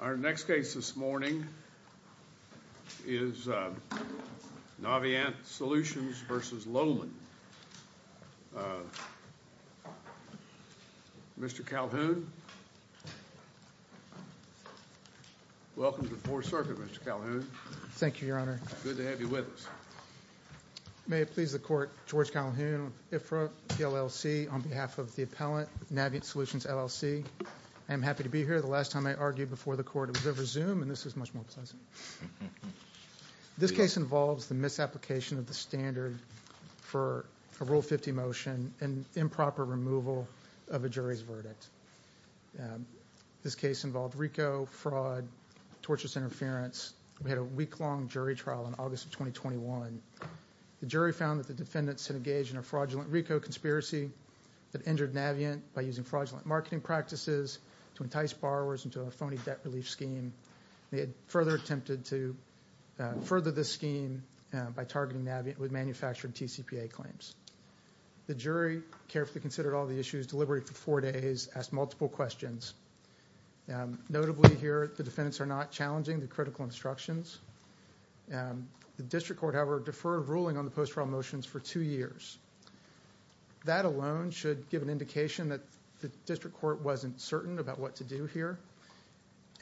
Our next case this morning is Navient Solutions v. Lohman. Mr. Calhoun, welcome to the Fourth Circuit, Mr. Calhoun. Thank you, Your Honor. Good to have you with us. May it please the Court, George Calhoun, IFRA, PLLC, on behalf of the appellant, Navient Solutions, LLC. I am happy to be here. The last time I argued before the Court, it was over Zoom, and this is much more pleasant. This case involves the misapplication of the standard for a Rule 50 motion and improper removal of a jury's verdict. This case involved RICO, fraud, torturous interference. We had a week-long jury trial in August of 2021. The jury found that the defendants had engaged in a fraudulent RICO conspiracy that injured Navient by using fraudulent marketing practices to entice borrowers into a phony debt relief scheme. They had further attempted to further this scheme by targeting Navient with manufactured TCPA claims. The jury carefully considered all the issues, deliberated for four days, asked multiple questions. Notably here, the defendants are not challenging the critical instructions. The District Court, however, deferred ruling on the post-trial motions for two years. That alone should give an indication that the District Court wasn't certain about what to do here.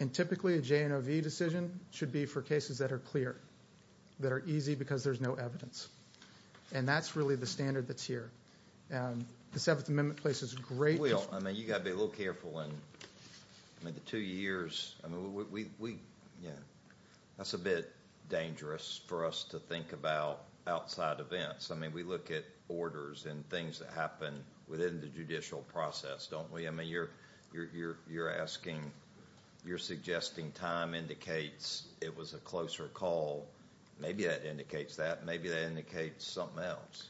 And typically, a J&OV decision should be for cases that are clear, that are easy because there's no evidence. And that's really the standard that's here. The Seventh Amendment places great... Well, I mean, you've got to be a little careful in the two years. That's a bit dangerous for us to think about outside events. I mean, we look at orders and things that happen within the judicial process, don't we? I mean, you're suggesting time indicates it was a closer call. Maybe that indicates that. Maybe that indicates something else.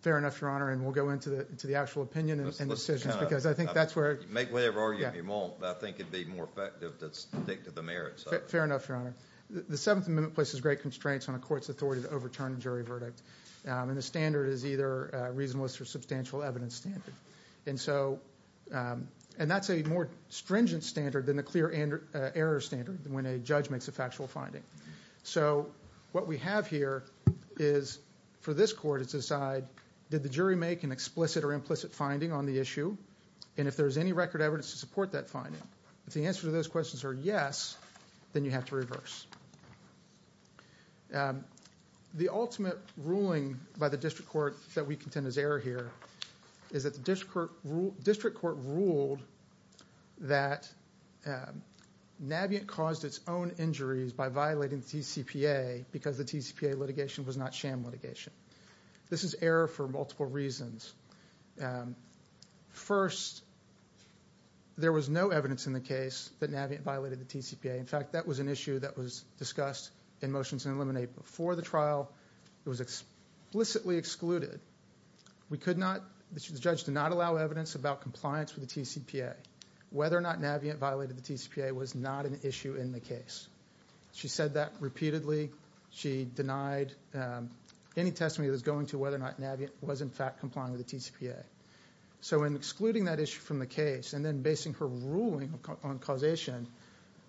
Fair enough, Your Honor, and we'll go into the actual opinion and decisions because I think that's where... Make whatever argument you want, but I think it would be more effective to stick to the merits of it. Fair enough, Your Honor. The Seventh Amendment places great constraints on a court's authority to overturn a jury verdict. And the standard is either a reasonableness or substantial evidence standard. And that's a more stringent standard than a clear error standard when a judge makes a factual finding. So what we have here is for this court to decide, did the jury make an explicit or implicit finding on the issue? And if there's any record evidence to support that finding. If the answers to those questions are yes, then you have to reverse. The ultimate ruling by the district court that we contend is error here is that the district court ruled that Navient caused its own injuries by violating the TCPA because the TCPA litigation was not sham litigation. This is error for multiple reasons. First, there was no evidence in the case that Navient violated the TCPA. In fact, that was an issue that was discussed in Motions to Eliminate before the trial. It was explicitly excluded. The judge did not allow evidence about compliance with the TCPA. Whether or not Navient violated the TCPA was not an issue in the case. She said that repeatedly. She denied any testimony that was going to whether or not Navient was in fact complying with the TCPA. So in excluding that issue from the case and then basing her ruling on causation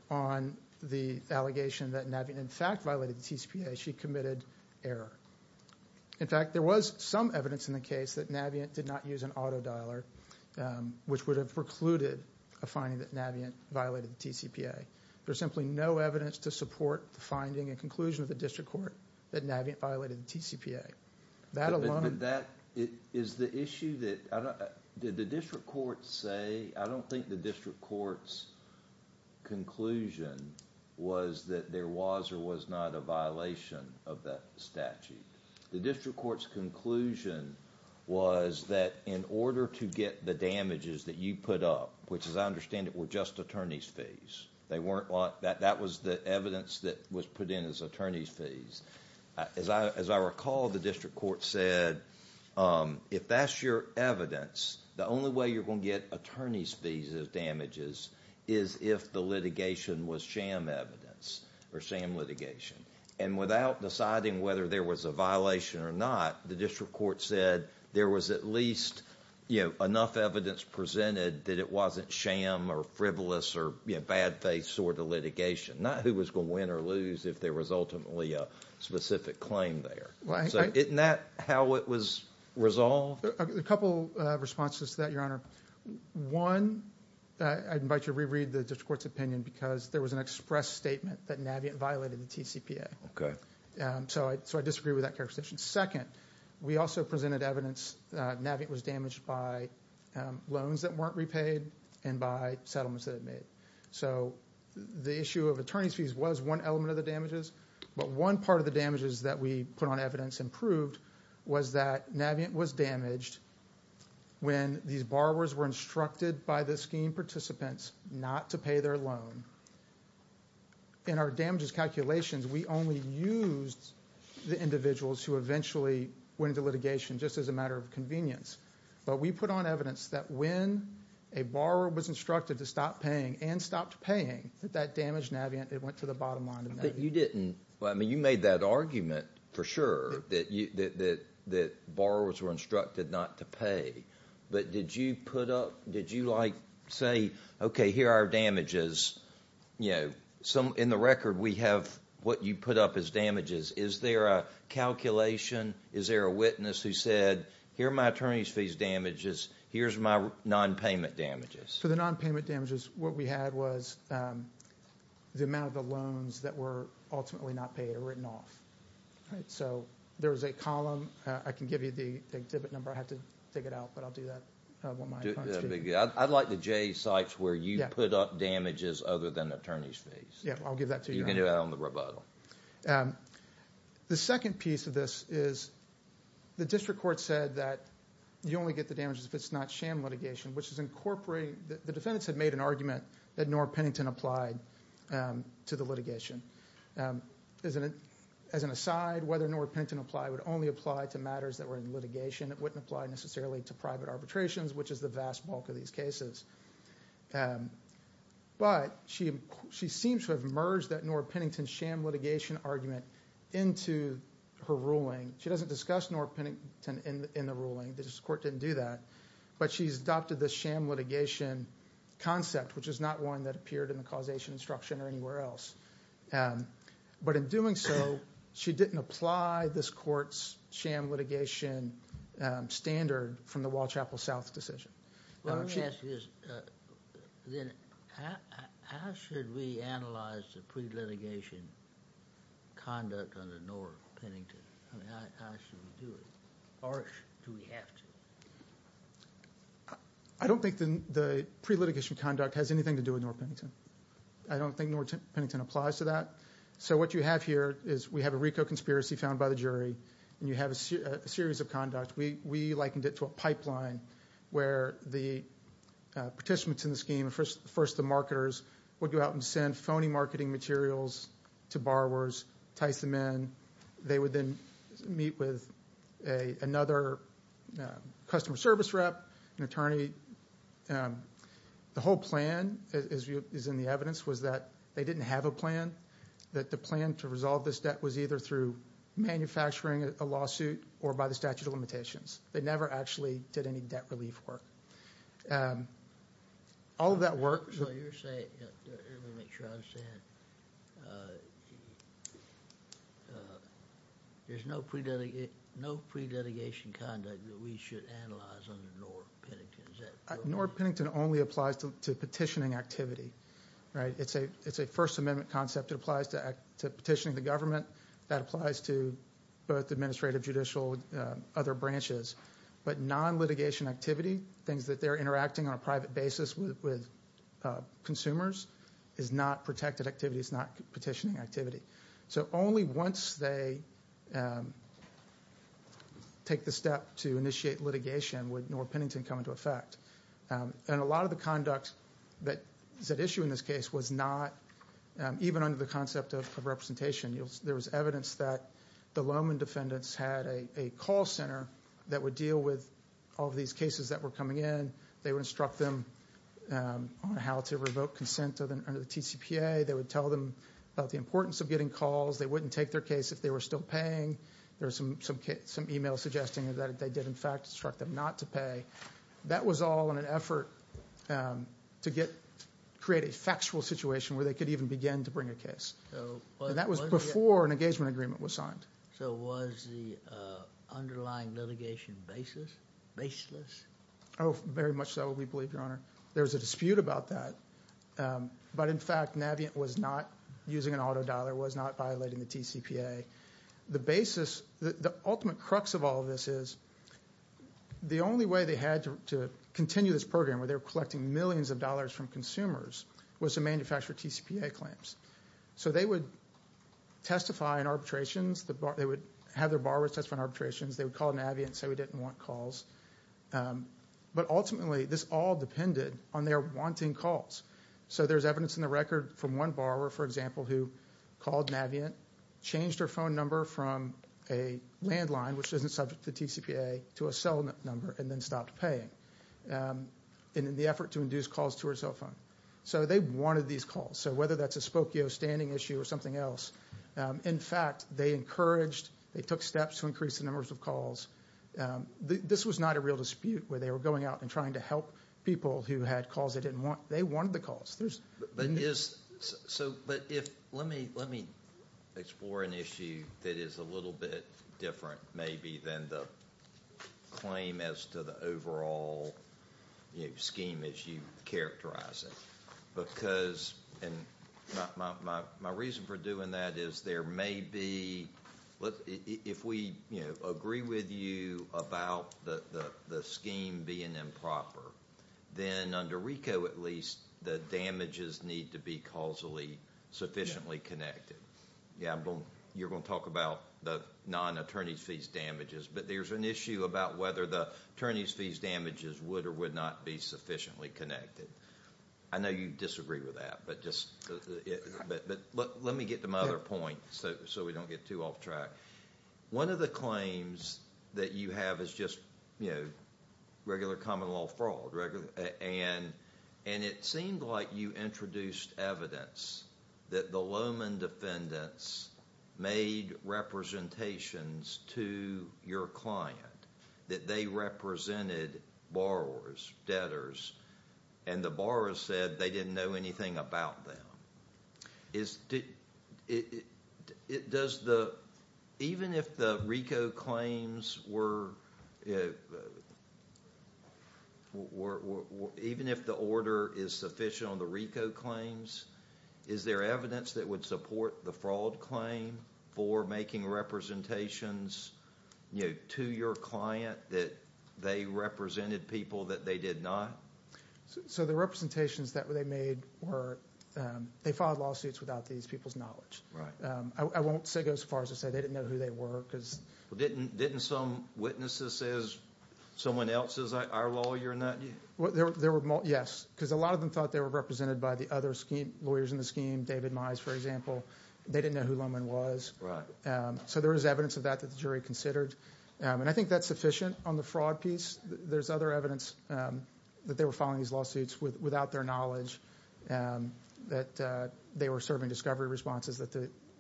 on the allegation that Navient in fact violated the TCPA, she committed error. In fact, there was some evidence in the case that Navient did not use an auto dialer, which would have precluded a finding that Navient violated the TCPA. There's simply no evidence to support the finding and conclusion of the district court that Navient violated the TCPA. That is the issue that the district courts say. I don't think the district court's conclusion was that there was or was not a violation of that statute. The district court's conclusion was that in order to get the damages that you put up, which as I understand it were just attorney's fees. That was the evidence that was put in as attorney's fees. As I recall, the district court said if that's your evidence, the only way you're going to get attorney's fees of damages is if the litigation was sham evidence or sham litigation. And without deciding whether there was a violation or not, the district court said there was at least enough evidence presented that it wasn't sham or frivolous or bad faith sort of litigation. Not who was going to win or lose if there was ultimately a specific claim there. Isn't that how it was resolved? A couple of responses to that, Your Honor. One, I'd invite you to reread the district court's opinion because there was an express statement that Navient violated the TCPA. Okay. So I disagree with that characterization. Second, we also presented evidence that Navient was damaged by loans that weren't repaid and by settlements that it made. So the issue of attorney's fees was one element of the damages. But one part of the damages that we put on evidence and proved was that Navient was damaged when these borrowers were instructed by the scheme participants not to pay their loan. In our damages calculations, we only used the individuals who eventually went into litigation just as a matter of convenience. But we put on evidence that when a borrower was instructed to stop paying and stopped paying, that that damaged Navient. It went to the bottom line of Navient. But you didn't. I mean, you made that argument for sure that borrowers were instructed not to pay. But did you put up, did you say, okay, here are our damages. In the record, we have what you put up as damages. Is there a calculation? Is there a witness who said, here are my attorney's fees damages. Here's my nonpayment damages. For the nonpayment damages, what we had was the amount of the loans that were ultimately not paid or written off. So there was a column. I can give you the exhibit number. I have to take it out, but I'll do that. I'd like the J sites where you put up damages other than attorney's fees. Yeah, I'll give that to you. You can do that on the rebuttal. The second piece of this is the district court said that you only get the damages if it's not sham litigation, which is incorporating, the defendants had made an argument that Nora Pennington applied to the litigation. As an aside, whether Nora Pennington applied would only apply to matters that were in litigation. It wouldn't apply necessarily to private arbitrations, which is the vast bulk of these cases. But she seems to have merged that Nora Pennington sham litigation argument into her ruling. She doesn't discuss Nora Pennington in the ruling. The district court didn't do that. But she's adopted the sham litigation concept, which is not one that appeared in the causation instruction or anywhere else. But in doing so, she didn't apply this court's sham litigation standard from the Wall Chapel South decision. How should we analyze the pre-litigation conduct under Nora Pennington? How should we do it? Or do we have to? I don't think the pre-litigation conduct has anything to do with Nora Pennington. I don't think Nora Pennington applies to that. So what you have here is we have a RICO conspiracy found by the jury, and you have a series of conducts. We likened it to a pipeline where the participants in the scheme, first the marketers, would go out and send phony marketing materials to borrowers, tice them in. They would then meet with another customer service rep, an attorney. The whole plan, as is in the evidence, was that they didn't have a plan, that the plan to resolve this debt was either through manufacturing a lawsuit or by the statute of limitations. They never actually did any debt relief work. All of that work. You're saying, let me make sure I understand, there's no pre-litigation conduct that we should analyze under Nora Pennington. Nora Pennington only applies to petitioning activity. It's a First Amendment concept. It applies to petitioning the government. That applies to both administrative, judicial, other branches. But non-litigation activity, things that they're interacting on a private basis with consumers, is not protected activity. It's not petitioning activity. So only once they take the step to initiate litigation would Nora Pennington come into effect. And a lot of the conduct that is at issue in this case was not, even under the concept of representation, there was evidence that the Lowman defendants had a call center that would deal with all of these cases that were coming in. They would instruct them on how to revoke consent under the TCPA. They would tell them about the importance of getting calls. They wouldn't take their case if they were still paying. There was some email suggesting that they did, in fact, instruct them not to pay. That was all in an effort to create a factual situation where they could even begin to bring a case. And that was before an engagement agreement was signed. So was the underlying litigation baseless? Oh, very much so, we believe, Your Honor. There was a dispute about that. But, in fact, Navient was not using an auto dialer, was not violating the TCPA. The ultimate crux of all of this is the only way they had to continue this program, where they were collecting millions of dollars from consumers, was to manufacture TCPA claims. So they would testify in arbitrations. They would have their borrowers testify in arbitrations. They would call Navient and say we didn't want calls. But, ultimately, this all depended on their wanting calls. So there's evidence in the record from one borrower, for example, who called Navient, changed her phone number from a landline, which isn't subject to TCPA, to a cell number and then stopped paying in the effort to induce calls to her cell phone. So they wanted these calls. So whether that's a Spokio standing issue or something else, in fact, they encouraged, they took steps to increase the numbers of calls. This was not a real dispute where they were going out and trying to help people who had calls they didn't want. They wanted the calls. But let me explore an issue that is a little bit different, maybe, than the claim as to the overall scheme as you characterize it. Because my reason for doing that is there may be, if we agree with you about the scheme being improper, then under RICO, at least, the damages need to be causally sufficiently connected. You're going to talk about the non-attorney's fees damages, but there's an issue about whether the attorney's fees damages would or would not be sufficiently connected. I know you disagree with that, but let me get to my other point so we don't get too off track. One of the claims that you have is just regular common law fraud, and it seemed like you introduced evidence that the Lowman defendants made representations to your client, that they represented borrowers, debtors, and the borrowers said they didn't know anything about them. Even if the order is sufficient on the RICO claims, is there evidence that would support the fraud claim for making representations to your client that they represented people that they did not? The representations that they made were they filed lawsuits without these people's knowledge. I won't go as far as to say they didn't know who they were. Didn't some witnesses say, is someone else our lawyer? Yes, because a lot of them thought they were represented by the other lawyers in the scheme, David Mize, for example. They didn't know who Lowman was, so there is evidence of that that the jury considered. I think that's sufficient on the fraud piece. There's other evidence that they were filing these lawsuits without their knowledge, that they were serving discovery responses that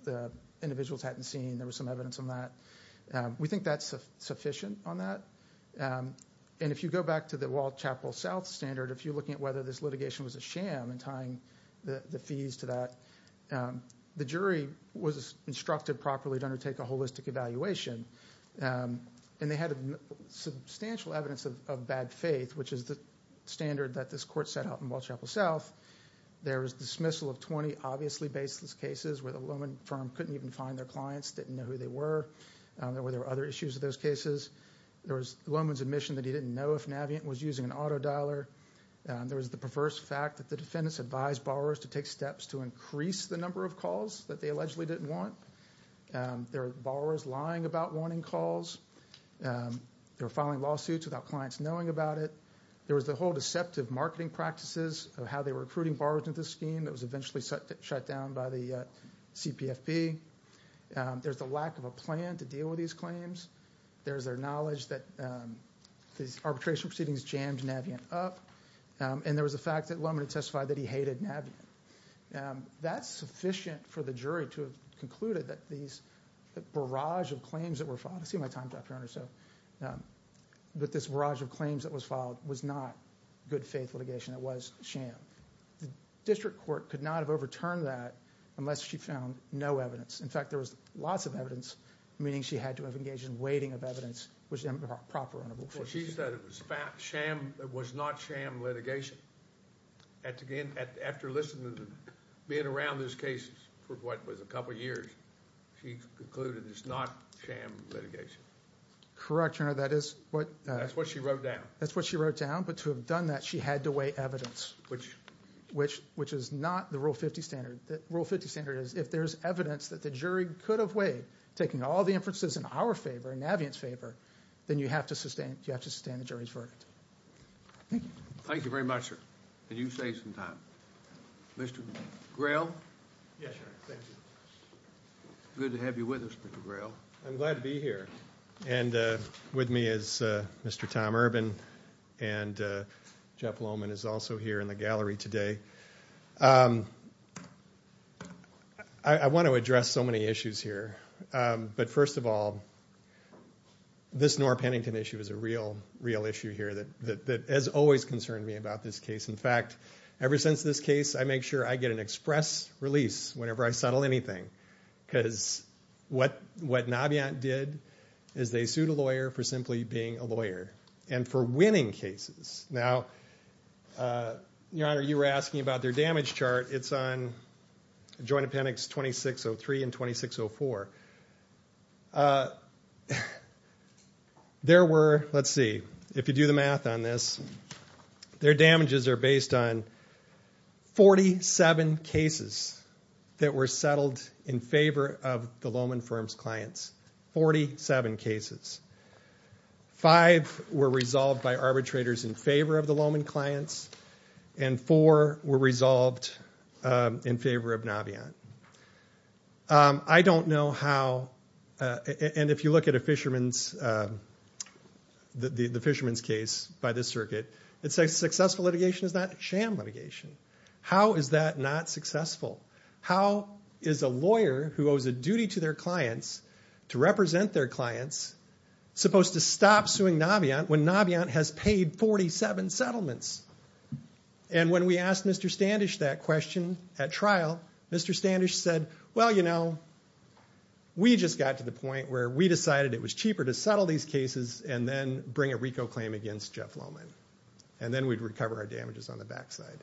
the individuals hadn't seen. There was some evidence on that. We think that's sufficient on that. And if you go back to the Walled Chapel South standard, if you're looking at whether this litigation was a sham and tying the fees to that, the jury was instructed properly to undertake a holistic evaluation, and they had substantial evidence of bad faith, which is the standard that this court set out in Walled Chapel South. There was dismissal of 20 obviously baseless cases where the Lowman firm couldn't even find their clients, didn't know who they were. There were other issues with those cases. There was Lowman's admission that he didn't know if Navient was using an auto dialer. There was the perverse fact that the defendants advised borrowers to take steps to increase the number of calls that they allegedly didn't want. There were borrowers lying about warning calls. They were filing lawsuits without clients knowing about it. There was the whole deceptive marketing practices of how they were recruiting borrowers into the scheme that was eventually shut down by the CPFP. There's the lack of a plan to deal with these claims. There's their knowledge that these arbitration proceedings jammed Navient up. And there was the fact that Lowman had testified that he hated Navient. That's sufficient for the jury to have concluded that these barrage of claims that were filed. I see my time's up, Your Honor. But this barrage of claims that was filed was not good-faith litigation. It was sham. The district court could not have overturned that unless she found no evidence. In fact, there was lots of evidence, meaning she had to have engaged in weighting of evidence, which was improper, Your Honor. Well, she said it was not sham litigation. After listening and being around those cases for what was a couple years, she concluded it's not sham litigation. Correct, Your Honor. That's what she wrote down. That's what she wrote down. But to have done that, she had to weigh evidence, which is not the Rule 50 standard. The Rule 50 standard is if there's evidence that the jury could have weighed, taking all the inferences in our favor and Navient's favor, then you have to sustain the jury's verdict. Thank you. Thank you very much, sir. And you saved some time. Mr. Grell? Yes, sir. Thank you. Good to have you with us, Mr. Grell. I'm glad to be here. And with me is Mr. Tom Urban, and Jeff Loman is also here in the gallery today. I want to address so many issues here. But first of all, this Noor-Pennington issue is a real issue here that has always concerned me about this case. In fact, ever since this case, I make sure I get an express release whenever I settle anything because what Navient did is they sued a lawyer for simply being a lawyer and for winning cases. Now, Your Honor, you were asking about their damage chart. It's on Joint Appendix 2603 and 2604. There were, let's see, if you do the math on this, their damages are based on 47 cases that were settled in favor of the Loman firm's clients, 47 cases. Five were resolved by arbitrators in favor of the Loman clients, and four were resolved in favor of Navient. I don't know how, and if you look at the Fisherman's case by this circuit, it says successful litigation is not sham litigation. How is that not successful? How is a lawyer who owes a duty to their clients to represent their clients supposed to stop suing Navient when Navient has paid 47 settlements? And when we asked Mr. Standish that question at trial, Mr. Standish said, well, you know, we just got to the point where we decided it was cheaper to settle these cases and then bring a RICO claim against Jeff Loman, and then we'd recover our damages on the backside.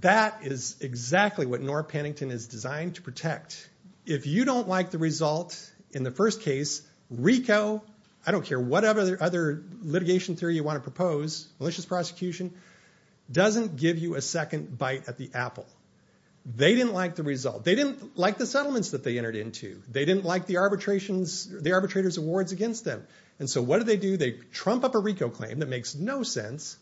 That is exactly what Norm Pennington is designed to protect. If you don't like the result in the first case, RICO, I don't care what other litigation theory you want to propose, malicious prosecution, doesn't give you a second bite at the apple. They didn't like the result. They didn't like the settlements that they entered into. They didn't like the arbitrator's awards against them. And so what do they do? They trump up a RICO claim that makes no sense,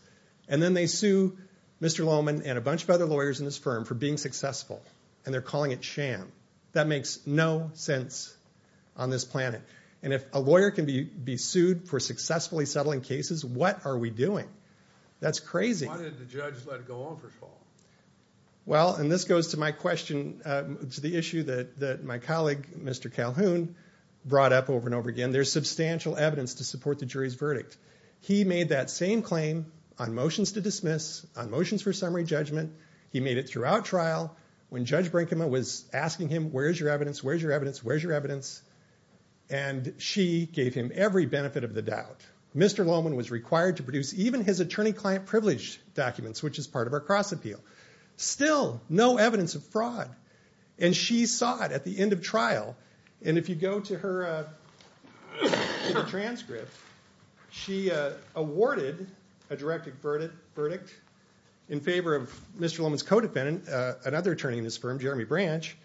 and then they sue Mr. Loman and a bunch of other lawyers in this firm for being successful, and they're calling it sham. That makes no sense on this planet. And if a lawyer can be sued for successfully settling cases, what are we doing? That's crazy. Why didn't the judge let it go on first of all? Well, and this goes to my question, to the issue that my colleague, Mr. Calhoun, brought up over and over again. There's substantial evidence to support the jury's verdict. He made that same claim on motions to dismiss, on motions for summary judgment. He made it throughout trial when Judge Brinkman was asking him, where's your evidence, where's your evidence, where's your evidence? And she gave him every benefit of the doubt. Mr. Loman was required to produce even his attorney-client privilege documents, which is part of our cross-appeal. Still, no evidence of fraud. And she saw it at the end of trial. And if you go to her transcript, she awarded a directed verdict in favor of Mr. Loman's co-defendant, another attorney in his firm, Jeremy Branch.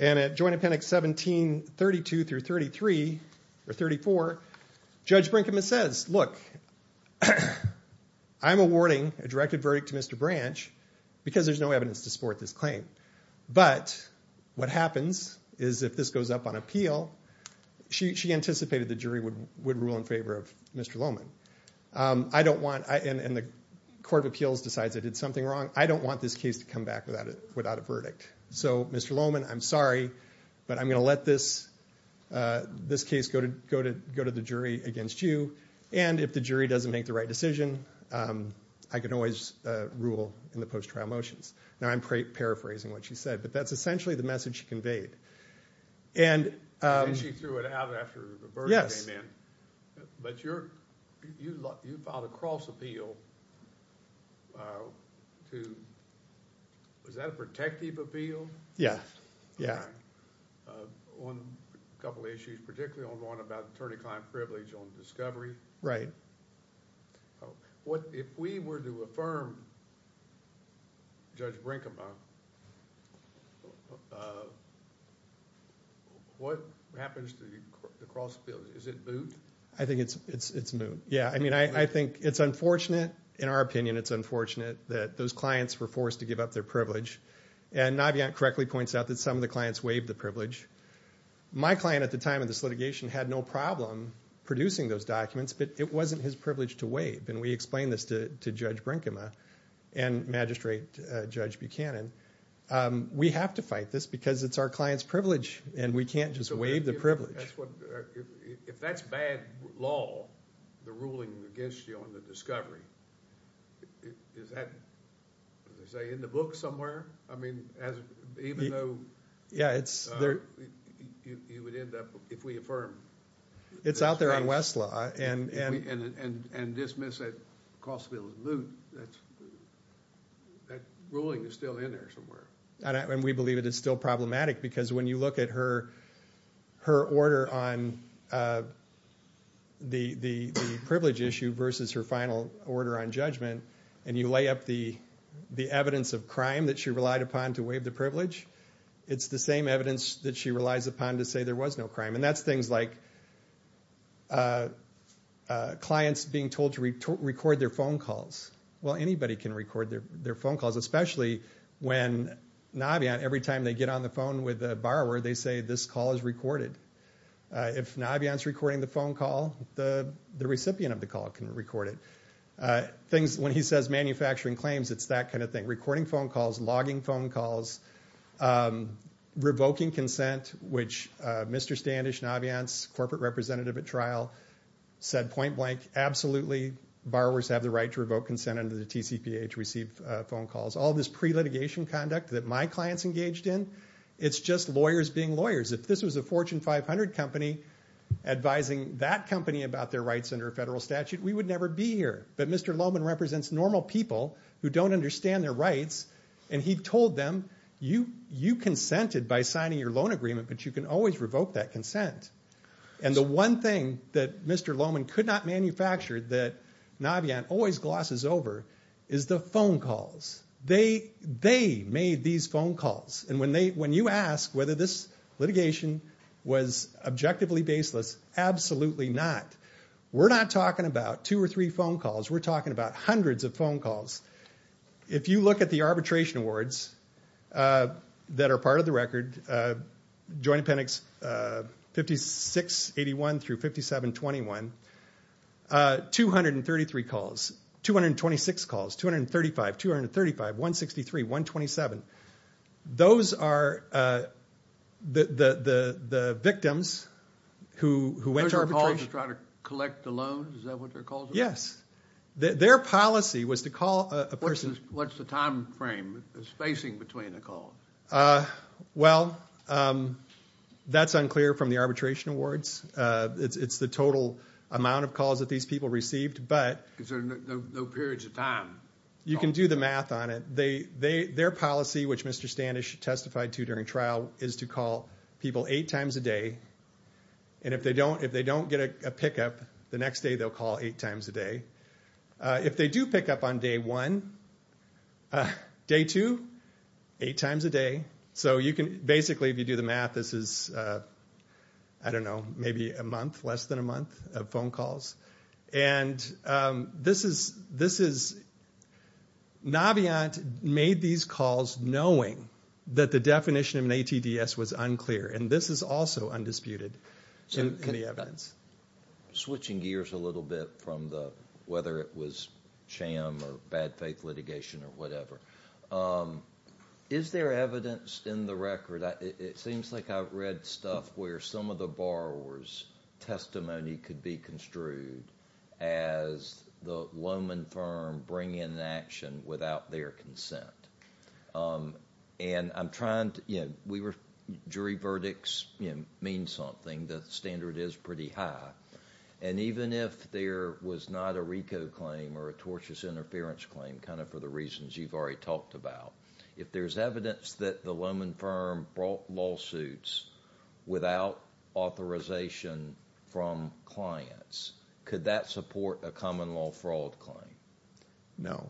And at Joint Appendix 1732-34, Judge Brinkman says, look, I'm awarding a directed verdict to Mr. Branch because there's no evidence to support this claim. But what happens is if this goes up on appeal, she anticipated the jury would rule in favor of Mr. Loman. I don't want, and the Court of Appeals decides I did something wrong, I don't want this case to come back without a verdict. So, Mr. Loman, I'm sorry, but I'm going to let this case go to the jury against you. And if the jury doesn't make the right decision, I can always rule in the post-trial motions. Now, I'm paraphrasing what she said, but that's essentially the message she conveyed. And she threw it out after the verdict came in. But you filed a cross-appeal to – was that a protective appeal? Yeah, yeah. On a couple of issues, particularly on the one about attorney-client privilege on discovery. Right. If we were to affirm Judge Brinkema, what happens to the cross-appeal? Is it moot? I think it's moot, yeah. I mean, I think it's unfortunate. In our opinion, it's unfortunate that those clients were forced to give up their privilege. And Navient correctly points out that some of the clients waived the privilege. My client at the time of this litigation had no problem producing those documents, but it wasn't his privilege to waive. And we explained this to Judge Brinkema and Magistrate Judge Buchanan. We have to fight this because it's our client's privilege, and we can't just waive the privilege. If that's bad law, the ruling against you on the discovery, is that, as they say, in the book somewhere? I mean, even though you would end up – if we affirm. It's out there on Westlaw. And dismiss that cross-appeal as moot. That ruling is still in there somewhere. And we believe it is still problematic because when you look at her order on the privilege issue versus her final order on judgment, and you lay up the evidence of crime that she relied upon to waive the privilege, it's the same evidence that she relies upon to say there was no crime. And that's things like clients being told to record their phone calls. Well, anybody can record their phone calls, especially when Navion, every time they get on the phone with a borrower, they say this call is recorded. If Navion's recording the phone call, the recipient of the call can record it. When he says manufacturing claims, it's that kind of thing. Recording phone calls, logging phone calls, revoking consent, which Mr. Standish, Navion's corporate representative at trial, said point blank, absolutely borrowers have the right to revoke consent under the TCPA to receive phone calls. All this pre-litigation conduct that my clients engaged in, it's just lawyers being lawyers. If this was a Fortune 500 company advising that company about their rights under a federal statute, we would never be here. But Mr. Lohmann represents normal people who don't understand their rights, and he told them, you consented by signing your loan agreement, but you can always revoke that consent. And the one thing that Mr. Lohmann could not manufacture that Navion always glosses over is the phone calls. They made these phone calls. And when you ask whether this litigation was objectively baseless, absolutely not. We're not talking about two or three phone calls. We're talking about hundreds of phone calls. If you look at the arbitration awards that are part of the record, joint appendix 5681 through 5721, 233 calls, 226 calls, 235, 235, 163, 127. Those are the victims who went to arbitration. Those are the calls to try to collect the loans? Is that what their calls were? Yes. Their policy was to call a person. What's the time frame, the spacing between the calls? Well, that's unclear from the arbitration awards. It's the total amount of calls that these people received. Because there are no periods of time. You can do the math on it. Their policy, which Mr. Standish testified to during trial, is to call people eight times a day. And if they don't get a pickup, the next day they'll call eight times a day. If they do pick up on day one, day two, eight times a day. So you can basically, if you do the math, this is, I don't know, maybe a month, less than a month of phone calls. And Naviant made these calls knowing that the definition of an ATDS was unclear. And this is also undisputed in the evidence. Switching gears a little bit from whether it was sham or bad faith litigation or whatever. Is there evidence in the record? It seems like I've read stuff where some of the borrower's testimony could be construed as the loanman firm bringing an action without their consent. And I'm trying to, you know, jury verdicts mean something. The standard is pretty high. And even if there was not a RICO claim or a tortious interference claim, kind of for the reasons you've already talked about, if there's evidence that the loanman firm brought lawsuits without authorization from clients, could that support a common law fraud claim? No.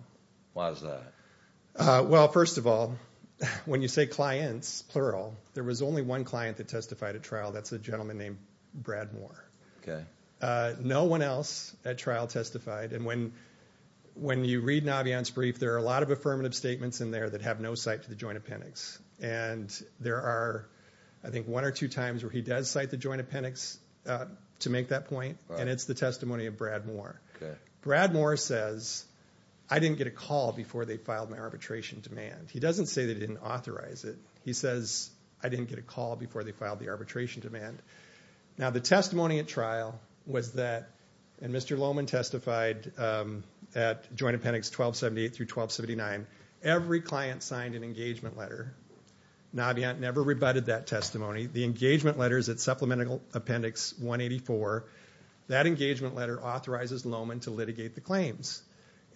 Why is that? Well, first of all, when you say clients, plural, there was only one client that testified at trial. That's a gentleman named Brad Moore. No one else at trial testified. And when you read Naviant's brief, there are a lot of affirmative statements in there that have no cite to the joint appendix. And there are, I think, one or two times where he does cite the joint appendix to make that point, and it's the testimony of Brad Moore. Okay. Brad Moore says, I didn't get a call before they filed my arbitration demand. He doesn't say they didn't authorize it. He says, I didn't get a call before they filed the arbitration demand. Now, the testimony at trial was that, and Mr. Lohman testified at joint appendix 1278 through 1279, every client signed an engagement letter. Naviant never rebutted that testimony. The engagement letter is at supplemental appendix 184. That engagement letter authorizes Lohman to litigate the claims.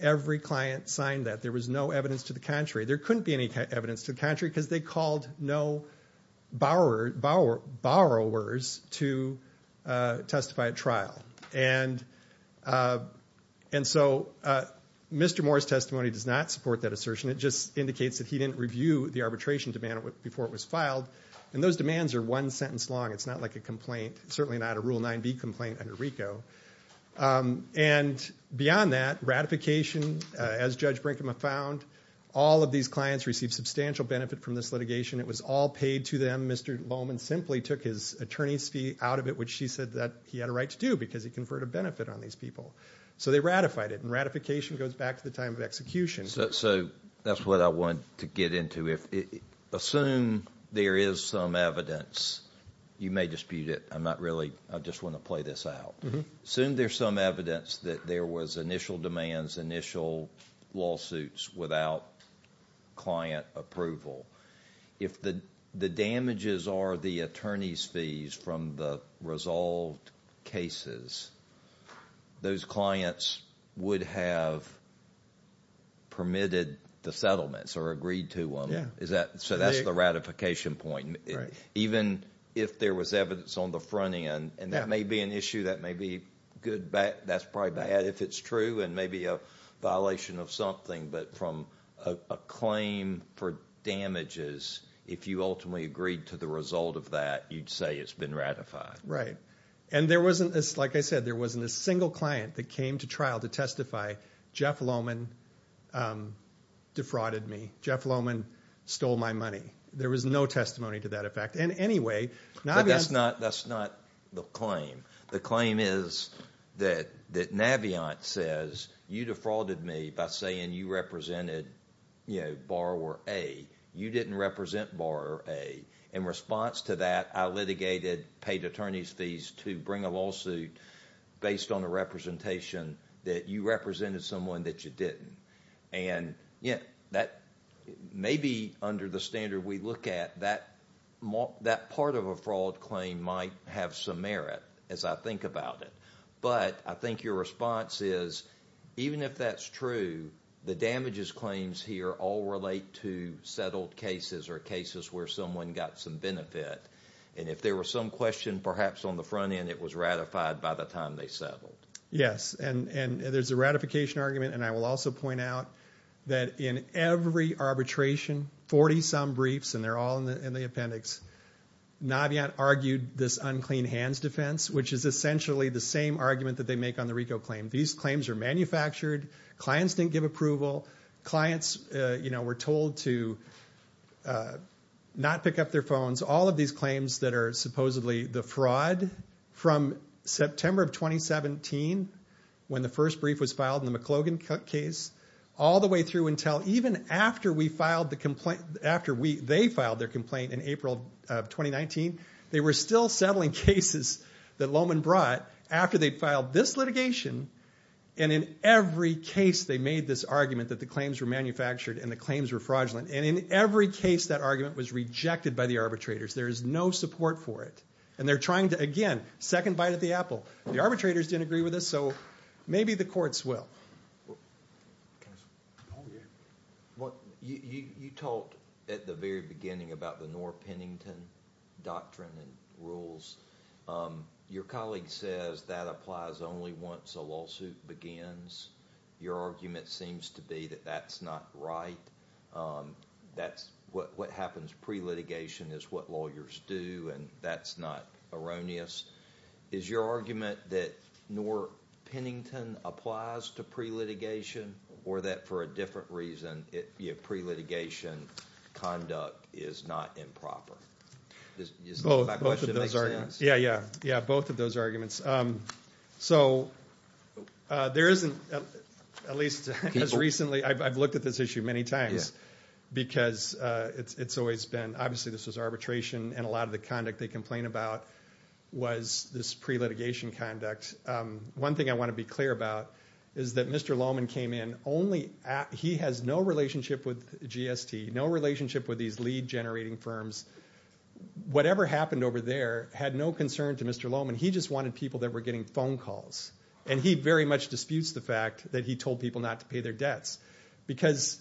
Every client signed that. There was no evidence to the contrary. There couldn't be any evidence to the contrary because they called no borrowers to testify at trial. And so Mr. Moore's testimony does not support that assertion. It just indicates that he didn't review the arbitration demand before it was filed. And those demands are one sentence long. It's not like a complaint, certainly not a Rule 9b complaint under RICO. And beyond that, ratification, as Judge Brinkman found, all of these clients received substantial benefit from this litigation. It was all paid to them. Mr. Lohman simply took his attorney's fee out of it, which he said that he had a right to do because he conferred a benefit on these people. So they ratified it. And ratification goes back to the time of execution. So that's what I want to get into. Assume there is some evidence. You may dispute it. I'm not really. I just want to play this out. Assume there's some evidence that there was initial demands, initial lawsuits without client approval. If the damages are the attorney's fees from the resolved cases, those clients would have permitted the settlements or agreed to them. So that's the ratification point. Even if there was evidence on the front end, and that may be an issue that may be good, that's probably bad if it's true, and maybe a violation of something. But from a claim for damages, if you ultimately agreed to the result of that, you'd say it's been ratified. And there wasn't, like I said, there wasn't a single client that came to trial to testify, Jeff Lohman defrauded me. Jeff Lohman stole my money. There was no testimony to that effect. In any way, Naviant – That's not the claim. The claim is that Naviant says you defrauded me by saying you represented borrower A. You didn't represent borrower A. In response to that, I litigated, paid attorney's fees to bring a lawsuit based on a representation that you represented someone that you didn't. Maybe under the standard we look at, that part of a fraud claim might have some merit, as I think about it. But I think your response is, even if that's true, the damages claims here all relate to settled cases or cases where someone got some benefit. And if there was some question perhaps on the front end, it was ratified by the time they settled. Yes, and there's a ratification argument. And I will also point out that in every arbitration, 40-some briefs, and they're all in the appendix, Naviant argued this unclean hands defense, which is essentially the same argument that they make on the RICO claim. These claims are manufactured. Clients didn't give approval. Clients were told to not pick up their phones. All of these claims that are supposedly the fraud from September of 2017, when the first brief was filed in the McLogan case, all the way through until even after we filed the complaint, after they filed their complaint in April of 2019, they were still settling cases that Lohman brought after they filed this litigation. And in every case, they made this argument that the claims were manufactured and the claims were fraudulent. And in every case, that argument was rejected by the arbitrators. There is no support for it. And they're trying to, again, second bite at the apple. The arbitrators didn't agree with this, so maybe the courts will. You talked at the very beginning about the Norr-Pennington doctrine and rules. Your colleague says that applies only once a lawsuit begins. Your argument seems to be that that's not right. That what happens pre-litigation is what lawyers do, and that's not erroneous. Is your argument that Norr-Pennington applies to pre-litigation, or that for a different reason, pre-litigation conduct is not improper? Both of those arguments. Yeah, yeah. Both of those arguments. So there isn't, at least as recently, I've looked at this issue many times. Because it's always been, obviously this was arbitration, and a lot of the conduct they complain about was this pre-litigation conduct. One thing I want to be clear about is that Mr. Lohman came in, he has no relationship with GST, no relationship with these lead generating firms. Whatever happened over there had no concern to Mr. Lohman. He just wanted people that were getting phone calls. And he very much disputes the fact that he told people not to pay their debts. Because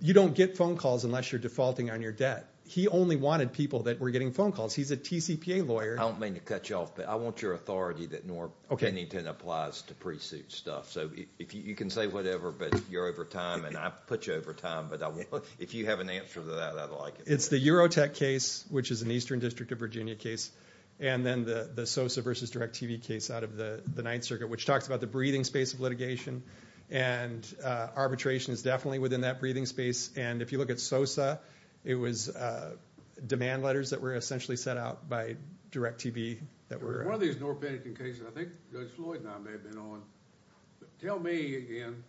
you don't get phone calls unless you're defaulting on your debt. He only wanted people that were getting phone calls. He's a TCPA lawyer. I don't mean to cut you off, but I want your authority that Norr-Pennington applies to pre-suit stuff. So you can say whatever, but you're over time, and I've put you over time, but if you have an answer to that, I'd like it. It's the Eurotech case, which is an Eastern District of Virginia case. And then the Sosa versus Direct TV case out of the Ninth Circuit, which talks about the breathing space of litigation. And arbitration is definitely within that breathing space. And if you look at Sosa, it was demand letters that were essentially sent out by Direct TV. One of these Norr-Pennington cases, I think Judge Floyd and I may have been on. Tell me again,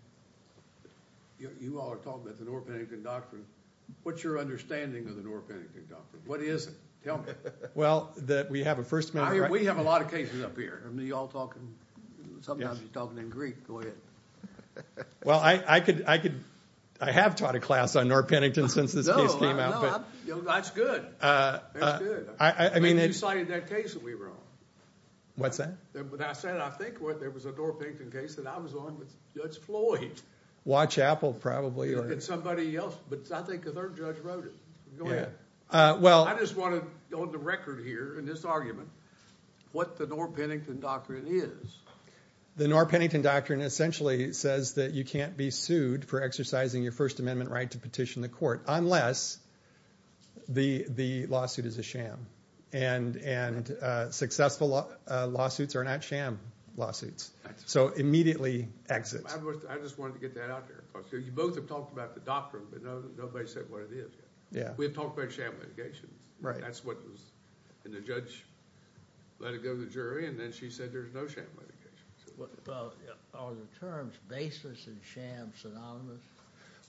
you all are talking about the Norr-Pennington Doctrine. What's your understanding of the Norr-Pennington Doctrine? What is it? Tell me. Well, we have a First Amendment right here. We have a lot of cases up here. Sometimes you're talking in Greek. Go ahead. Well, I could – I have taught a class on Norr-Pennington since this case came out. No, that's good. That's good. You cited that case that we were on. What's that? When I said I think there was a Norr-Pennington case that I was on with Judge Floyd. Watch Apple probably. And somebody else, but I think the third judge wrote it. Go ahead. I just want to go on the record here in this argument what the Norr-Pennington Doctrine is. The Norr-Pennington Doctrine essentially says that you can't be sued for exercising your First Amendment right to petition the court unless the lawsuit is a sham. And successful lawsuits are not sham lawsuits. So immediately exit. I just wanted to get that out there. You both have talked about the doctrine, but nobody said what it is yet. We've talked about sham litigation. That's what was – and the judge let it go to the jury, and then she said there's no sham litigation. Well, are the terms baseless and sham synonymous?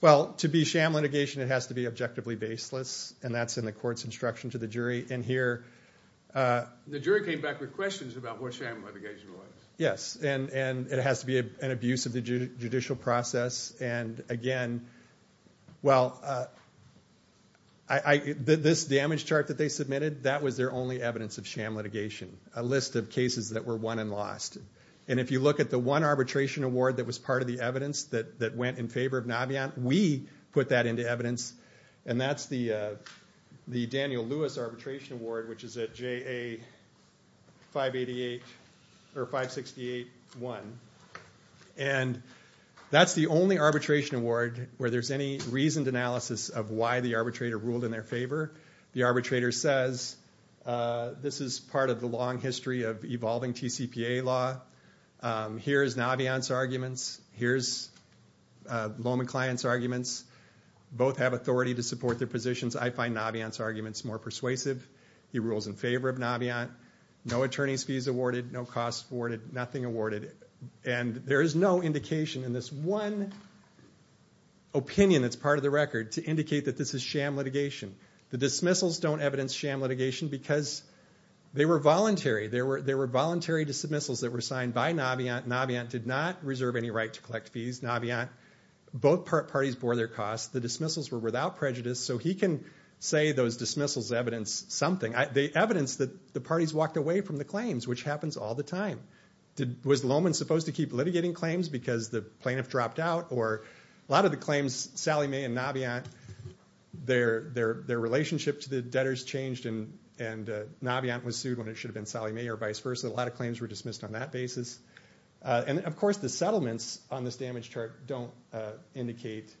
Well, to be sham litigation, it has to be objectively baseless, and that's in the court's instruction to the jury. And here – The jury came back with questions about what sham litigation was. Yes, and it has to be an abuse of the judicial process. And again, well, this damage chart that they submitted, that was their only evidence of sham litigation, a list of cases that were won and lost. And if you look at the one arbitration award that was part of the evidence that went in favor of Naviant, we put that into evidence, and that's the Daniel Lewis Arbitration Award, which is at JA 568-1. And that's the only arbitration award where there's any reasoned analysis of why the arbitrator ruled in their favor. The arbitrator says, this is part of the long history of evolving TCPA law. Here's Naviant's arguments. Here's Lohman Klein's arguments. Both have authority to support their positions. I find Naviant's arguments more persuasive. He rules in favor of Naviant. No attorney's fees awarded. No costs awarded. Nothing awarded. And there is no indication in this one opinion that's part of the record to indicate that this is sham litigation. The dismissals don't evidence sham litigation because they were voluntary. There were voluntary dismissals that were signed by Naviant. Naviant did not reserve any right to collect fees. Naviant, both parties bore their costs. The dismissals were without prejudice. So he can say those dismissals evidence something. They evidence that the parties walked away from the claims, which happens all the time. Was Lohman supposed to keep litigating claims because the plaintiff dropped out? Or a lot of the claims, Sallie Mae and Naviant, their relationship to the debtors changed and Naviant was sued when it should have been Sallie Mae or vice versa. A lot of claims were dismissed on that basis. And, of course, the settlements on this damage chart don't indicate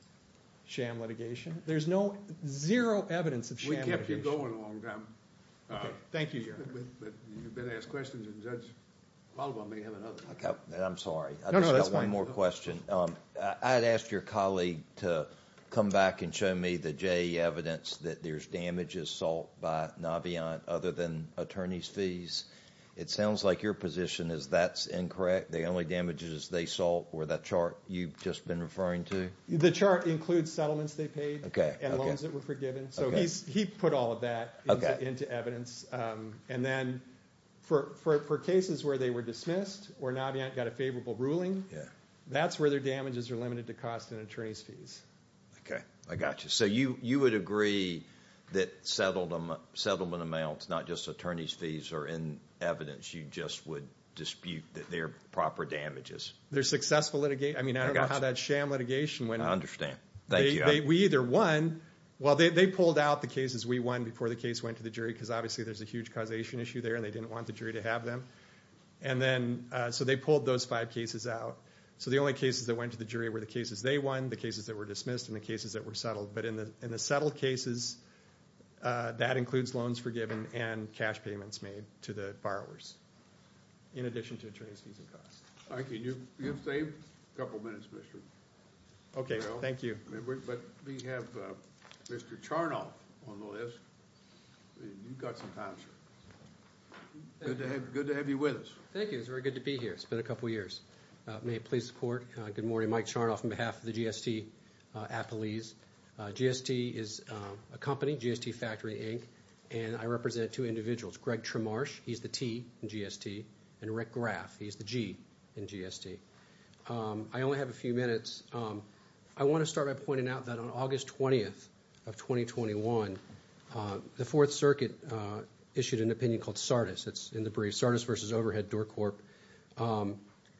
sham litigation. There's no, zero evidence of sham litigation. We kept you going a long time. Thank you, Your Honor. But you've been asked questions and Judge Waldbaum may have another. I'm sorry. No, no, that's fine. I've got one more question. I had asked your colleague to come back and show me the JE evidence that there's damages sought by Naviant other than attorney's fees. It sounds like your position is that's incorrect. The only damages they sought were that chart you've just been referring to. The chart includes settlements they paid and loans that were forgiven. So he put all of that into evidence. And then for cases where they were dismissed or Naviant got a favorable ruling, that's where their damages are limited to cost and attorney's fees. Okay, I got you. So you would agree that settlement amounts, not just attorney's fees, are in evidence. You just would dispute that they're proper damages. They're successful litigation. I mean, I don't know how that sham litigation went. I understand. Thank you. We either won. Well, they pulled out the cases we won before the case went to the jury because obviously there's a huge causation issue there and they didn't want the jury to have them. So they pulled those five cases out. So the only cases that went to the jury were the cases they won, the cases that were dismissed, and the cases that were settled. But in the settled cases, that includes loans forgiven and cash payments made to the borrowers in addition to attorney's fees and costs. You've saved a couple minutes, Mr. Bell. Okay, thank you. But we have Mr. Charnoff on the list. You've got some time, sir. Good to have you with us. Thank you. It's very good to be here. It's been a couple years. May I please support? Good morning. Mike Charnoff on behalf of the GST Appalese. GST is a company, GST Factory, Inc., and I represent two individuals, Greg Tremarch, he's the T in GST, and Rick Graff, he's the G in GST. I only have a few minutes. I want to start by pointing out that on August 20th of 2021, the Fourth Circuit issued an opinion called SARDIS, it's in the brief, SARDIS versus Overhead Door Corp.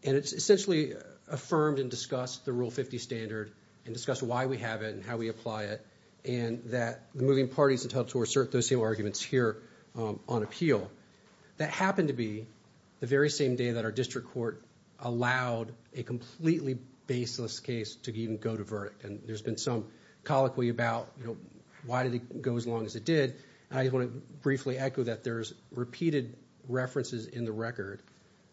And it's essentially affirmed and discussed the Rule 50 standard and discussed why we have it and how we apply it and that the moving party is entitled to assert those same arguments here on appeal. That happened to be the very same day that our district court allowed a completely baseless case to even go to verdict. And there's been some colloquy about, you know, why did it go as long as it did? And I just want to briefly echo that there's repeated references in the record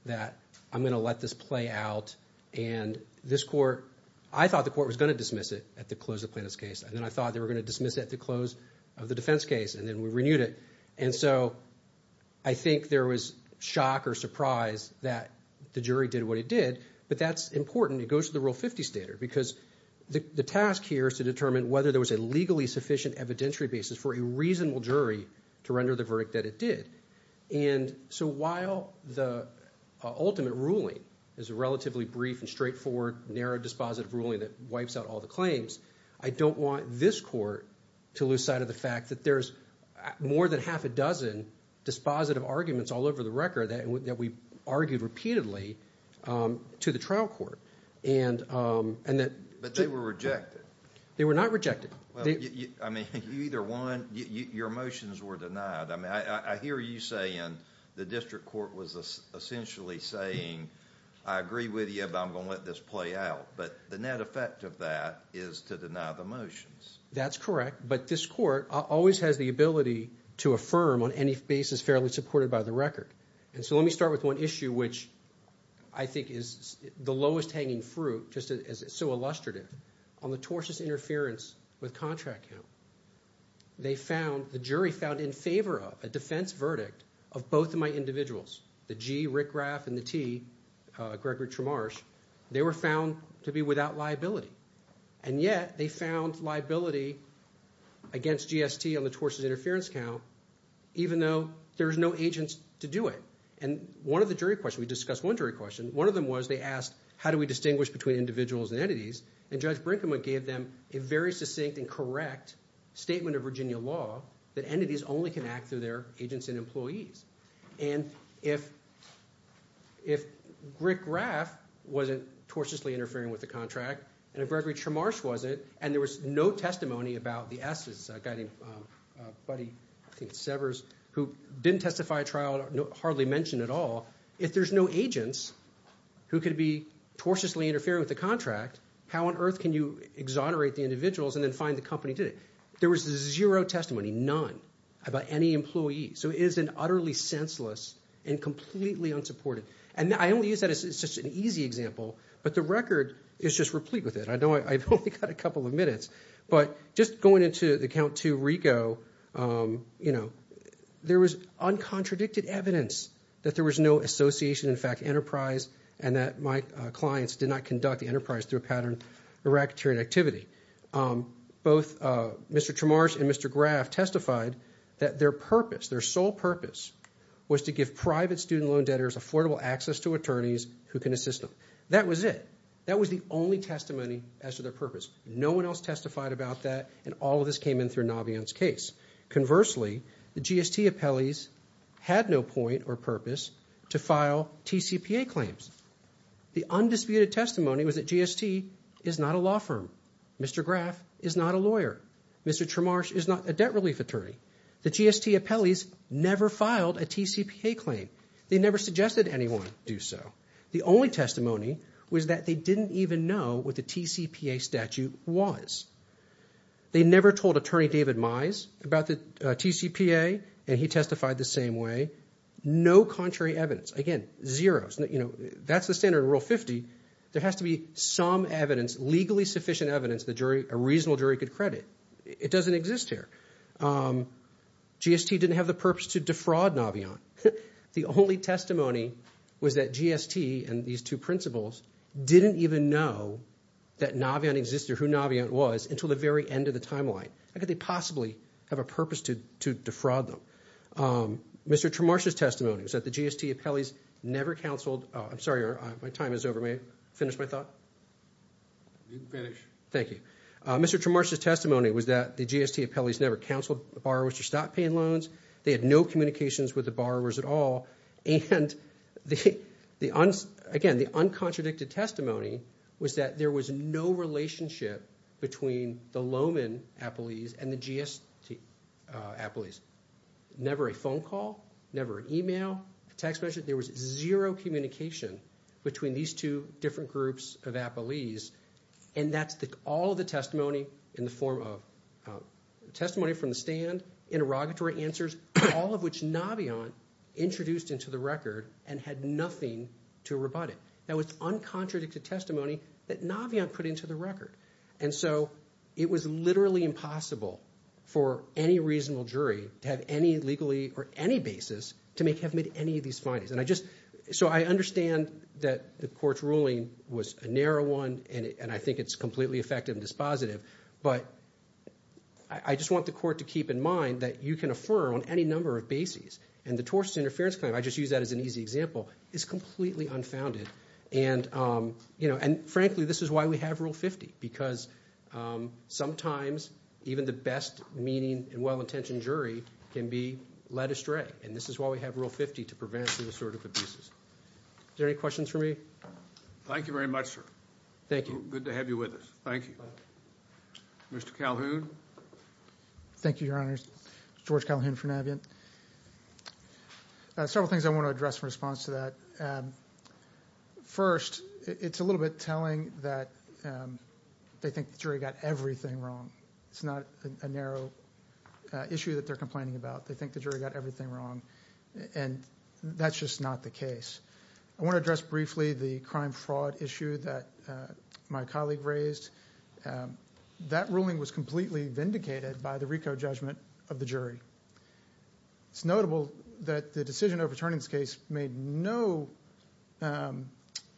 that I'm going to let this play out. And this court, I thought the court was going to dismiss it at the close of the plaintiff's case, and then I thought they were going to dismiss it at the close of the defense case, and then we renewed it. And so I think there was shock or surprise that the jury did what it did, but that's important. It goes to the Rule 50 standard because the task here is to determine whether there was a legally sufficient evidentiary basis for a reasonable jury to render the verdict that it did. And so while the ultimate ruling is a relatively brief and straightforward, narrow, dispositive ruling that wipes out all the claims, I don't want this court to lose sight of the fact that there's more than half a dozen dispositive arguments all over the record that we argued repeatedly to the trial court. But they were rejected. They were not rejected. I mean, you either won, your motions were denied. I mean, I hear you saying the district court was essentially saying, I agree with you, but I'm going to let this play out. But the net effect of that is to deny the motions. That's correct. But this court always has the ability to affirm on any basis fairly supported by the record. And so let me start with one issue, which I think is the lowest hanging fruit, just as it's so illustrative, on the tortious interference with contract count. They found, the jury found in favor of a defense verdict of both of my individuals, the G., Rick Graff, and the T., Gregory Tramarsh, they were found to be without liability. And yet they found liability against GST on the tortious interference count even though there's no agents to do it. And one of the jury questions, we discussed one jury question, one of them was they asked how do we distinguish between individuals and entities, and Judge Brinkman gave them a very succinct and correct statement of Virginia law that entities only can act through their agents and employees. And if Rick Graff wasn't tortiously interfering with the contract and if Gregory Tramarsh wasn't and there was no testimony about the S., a guy named Buddy Severs, who didn't testify at trial, hardly mentioned at all, if there's no agents who could be tortiously interfering with the contract, how on earth can you exonerate the individuals and then fine the company today? There was zero testimony, none, about any employee. So it is an utterly senseless and completely unsupported. And I only use that as just an easy example, but the record is just replete with it. I know I've only got a couple of minutes. But just going into the Count II RICO, you know, there was uncontradicted evidence that there was no association, in fact, enterprise, and that my clients did not conduct the enterprise through a pattern of racketeering activity. Both Mr. Tramarsh and Mr. Graff testified that their purpose, their sole purpose, was to give private student loan debtors affordable access to attorneys who can assist them. That was it. That was the only testimony as to their purpose. No one else testified about that, and all of this came in through Navion's case. Conversely, the GST appellees had no point or purpose to file TCPA claims. The undisputed testimony was that GST is not a law firm. Mr. Graff is not a lawyer. Mr. Tramarsh is not a debt relief attorney. The GST appellees never filed a TCPA claim. They never suggested anyone do so. The only testimony was that they didn't even know what the TCPA statute was. They never told Attorney David Mize about the TCPA, and he testified the same way. No contrary evidence. Again, zeroes. That's the standard in Rule 50. There has to be some evidence, legally sufficient evidence, that a reasonable jury could credit. It doesn't exist here. GST didn't have the purpose to defraud Navion. The only testimony was that GST and these two principals didn't even know that Navion existed or who Navion was until the very end of the timeline. How could they possibly have a purpose to defraud them? Mr. Tramarsh's testimony was that the GST appellees never counseled. I'm sorry. My time is over. May I finish my thought? You can finish. Thank you. Mr. Tramarsh's testimony was that the GST appellees never counseled the borrowers to stop paying loans. They had no communications with the borrowers at all. And, again, the uncontradicted testimony was that there was no relationship between the Lohman appellees and the GST appellees. Never a phone call, never an email, a text message. There was zero communication between these two different groups of appellees. And that's all of the testimony in the form of testimony from the stand, interrogatory answers, all of which Navion introduced into the record and had nothing to rebut it. That was uncontradicted testimony that Navion put into the record. And so it was literally impossible for any reasonable jury to have any legally or any basis to make have made any of these findings. So I understand that the court's ruling was a narrow one, and I think it's completely effective and dispositive. But I just want the court to keep in mind that you can affirm on any number of bases. And the torts interference claim, I just used that as an easy example, is completely unfounded. And, frankly, this is why we have Rule 50, because sometimes even the best-meaning and well-intentioned jury can be led astray. And this is why we have Rule 50, to prevent this sort of abuses. Is there any questions for me? Thank you very much, sir. Thank you. Good to have you with us. Thank you. Mr. Calhoun? Thank you, Your Honors. George Calhoun for Navion. Several things I want to address in response to that. First, it's a little bit telling that they think the jury got everything wrong. It's not a narrow issue that they're complaining about. They think the jury got everything wrong. And that's just not the case. I want to address briefly the crime-fraud issue that my colleague raised. That ruling was completely vindicated by the RICO judgment of the jury. It's notable that the decision overturning this case made no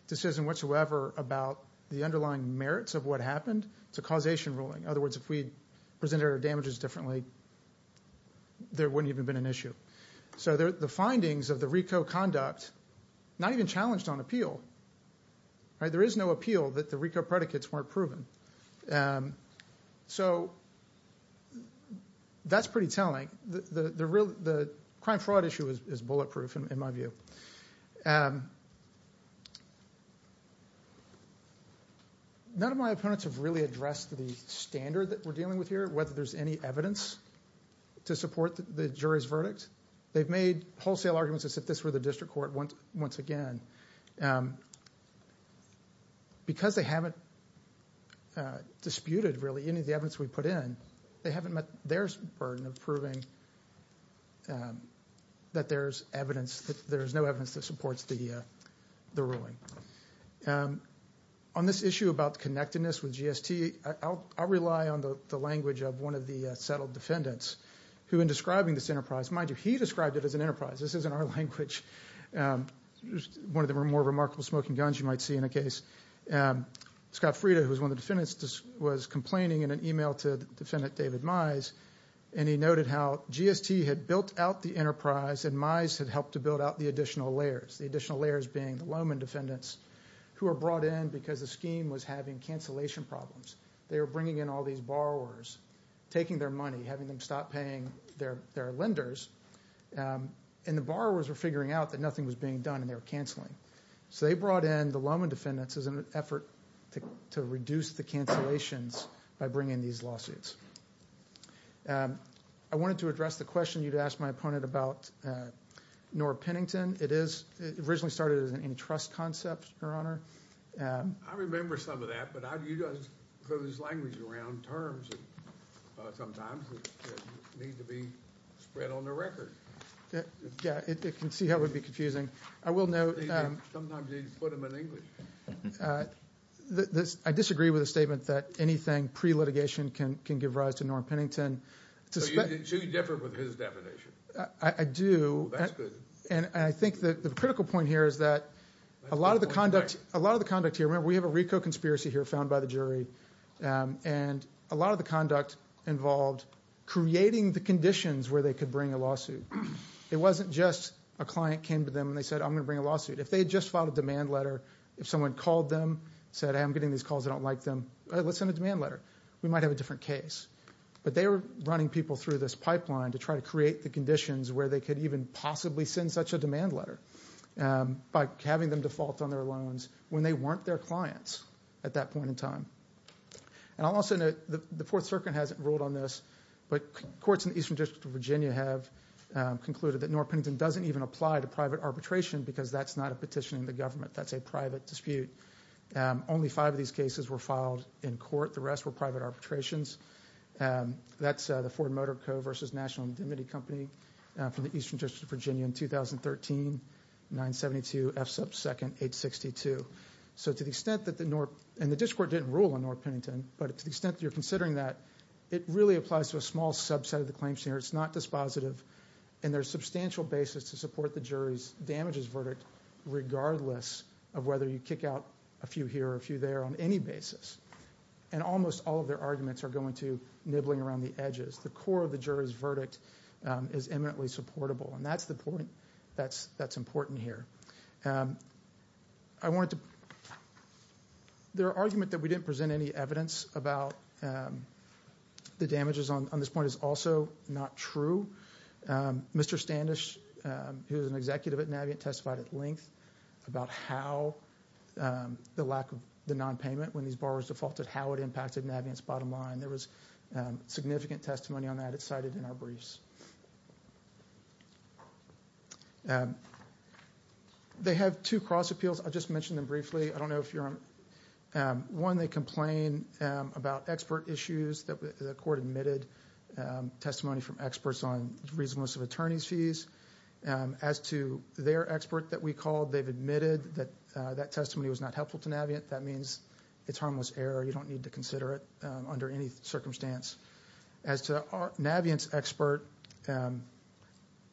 decision whatsoever about the underlying merits of what happened. It's a causation ruling. In other words, if we had presented our damages differently, there wouldn't even have been an issue. So the findings of the RICO conduct, not even challenged on appeal. There is no appeal that the RICO predicates weren't proven. So that's pretty telling. The crime-fraud issue is bulletproof, in my view. None of my opponents have really addressed the standard that we're dealing with here, whether there's any evidence to support the jury's verdict. They've made wholesale arguments as if this were the district court once again. Because they haven't disputed, really, any of the evidence we put in, they haven't met their burden of proving that there's no evidence that supports the ruling. On this issue about connectedness with GST, I'll rely on the language of one of the settled defendants, who in describing this enterprise, mind you, he described it as an enterprise. This isn't our language. One of the more remarkable smoking guns you might see in a case. Scott Frieda, who was one of the defendants, was complaining in an email to defendant David Mize, and he noted how GST had built out the enterprise, and Mize had helped to build out the additional layers, the additional layers being the Lowman defendants, who were brought in because the scheme was having cancellation problems. They were bringing in all these borrowers, taking their money, having them stop paying their lenders, and the borrowers were figuring out that nothing was being done, and they were canceling. So they brought in the Lowman defendants as an effort to reduce the cancellations by bringing these lawsuits. I wanted to address the question you'd asked my opponent about Norah Pennington. It originally started as an antitrust concept, Your Honor. I remember some of that, but you don't use language around terms sometimes that need to be spread on the record. Yeah, it can see how it would be confusing. I will note that I disagree with the statement that anything pre-litigation can give rise to Norah Pennington. So you differ with his definition? I do, and I think the critical point here is that a lot of the conduct here, remember we have a RICO conspiracy here found by the jury, and a lot of the conduct involved creating the conditions where they could bring a lawsuit. It wasn't just a client came to them and they said, I'm going to bring a lawsuit. If they had just filed a demand letter, if someone called them and said, I'm getting these calls, I don't like them, let's send a demand letter, we might have a different case. But they were running people through this pipeline to try to create the conditions where they could even possibly send such a demand letter by having them default on their loans when they weren't their clients at that point in time. And I'll also note that the Fourth Circuit hasn't ruled on this, but courts in the Eastern District of Virginia have concluded that Norah Pennington doesn't even apply to private arbitration because that's not a petition in the government. That's a private dispute. Only five of these cases were filed in court. The rest were private arbitrations. That's the Ford Motor Co. v. National Indemnity Company from the Eastern District of Virginia in 2013, 972 F sub 2nd 862. And the district court didn't rule on Norah Pennington, but to the extent that you're considering that, it really applies to a small subset of the claims here. It's not dispositive, and there's substantial basis to support the jury's damages verdict regardless of whether you kick out a few here or a few there on any basis. And almost all of their arguments are going to nibbling around the edges. The core of the jury's verdict is eminently supportable, and that's the point that's important here. There are arguments that we didn't present any evidence about the damages on this point is also not true. Mr. Standish, who is an executive at Navient, testified at length about how the lack of the nonpayment, when these borrowers defaulted, how it impacted Navient's bottom line. There was significant testimony on that. It's cited in our briefs. They have two cross appeals. I'll just mention them briefly. I don't know if you're on. One, they complain about expert issues. The court admitted testimony from experts on reasonableness of attorney's fees. As to their expert that we called, they've admitted that that testimony was not helpful to Navient. That means it's harmless error. You don't need to consider it under any circumstance. As to Navient's expert,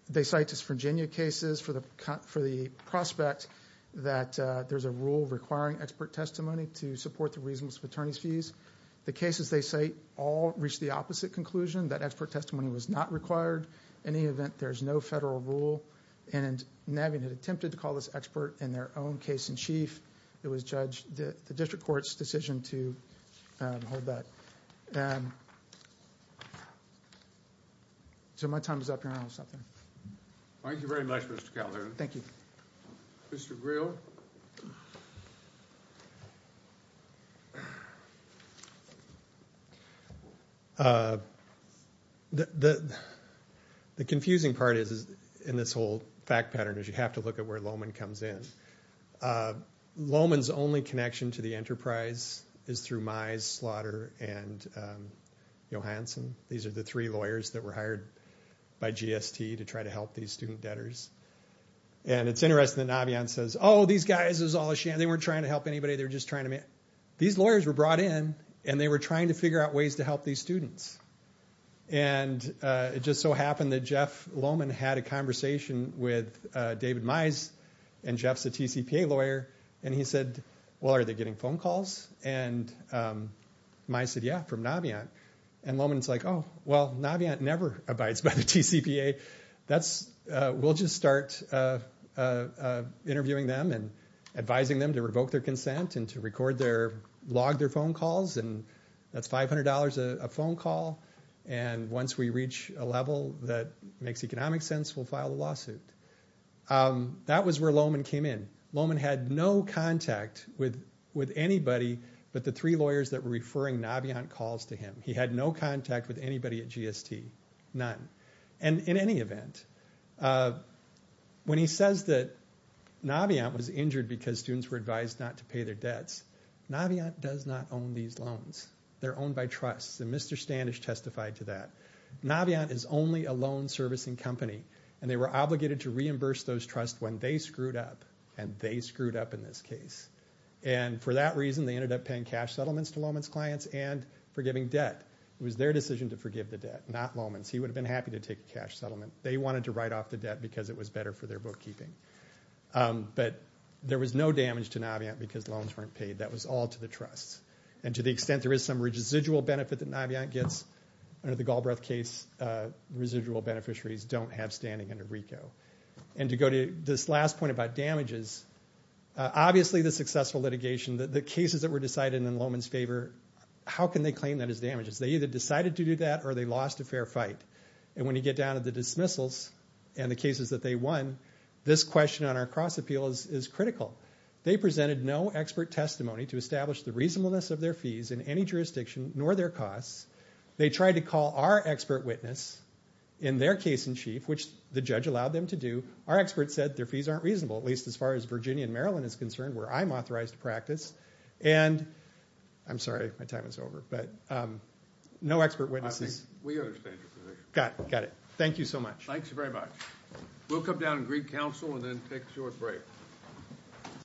they cite his Virginia cases for the prospect that there's a rule requiring expert testimony to support the reasonableness of attorney's fees. The cases they cite all reach the opposite conclusion, that expert testimony was not required. In any event, there's no federal rule, and Navient had attempted to call this expert in their own case in chief. It was the district court's decision to hold that. My time is up here. I don't have to stop there. Thank you very much, Mr. Calderon. Thank you. Mr. Greel. The confusing part in this whole fact pattern is you have to look at where Lowman comes in. Lowman's only connection to the enterprise is through Mize, Slaughter, and Johansson. These are the three lawyers that were hired by GST to try to help these student debtors. It's interesting that Navient says, oh, these guys are all a sham. They weren't trying to help anybody. These lawyers were brought in, and they were trying to figure out ways to help these students. It just so happened that Jeff Lowman had a conversation with David Mize, and Jeff's a TCPA lawyer. And he said, well, are they getting phone calls? And Mize said, yeah, from Navient. And Lowman's like, oh, well, Navient never abides by the TCPA. We'll just start interviewing them and advising them to revoke their consent and to log their phone calls. And that's $500 a phone call. And once we reach a level that makes economic sense, we'll file a lawsuit. That was where Lowman came in. Lowman had no contact with anybody but the three lawyers that were referring Navient calls to him. He had no contact with anybody at GST, none. And in any event, when he says that Navient was injured because students were advised not to pay their debts, Navient does not own these loans. They're owned by trusts, and Mr. Standish testified to that. Navient is only a loan servicing company, and they were obligated to reimburse those trusts when they screwed up, and they screwed up in this case. And for that reason, they ended up paying cash settlements to Lowman's clients and forgiving debt. It was their decision to forgive the debt, not Lowman's. He would have been happy to take a cash settlement. They wanted to write off the debt because it was better for their bookkeeping. But there was no damage to Navient because loans weren't paid. That was all to the trusts. And to the extent there is some residual benefit that Navient gets, under the Galbraith case, residual beneficiaries don't have standing under RICO. And to go to this last point about damages, obviously the successful litigation, the cases that were decided in Lowman's favor, how can they claim that as damages? They either decided to do that or they lost a fair fight. And when you get down to the dismissals and the cases that they won, this question on our cross-appeal is critical. They presented no expert testimony to establish the reasonableness of their fees in any jurisdiction, nor their costs. They tried to call our expert witness in their case in chief, which the judge allowed them to do. Our expert said their fees aren't reasonable, at least as far as Virginia and Maryland is concerned where I'm authorized to practice. And I'm sorry. My time is over. But no expert witnesses. We understand your position. Got it. Thank you so much. Thanks very much. We'll come down and greet counsel and then take a short break.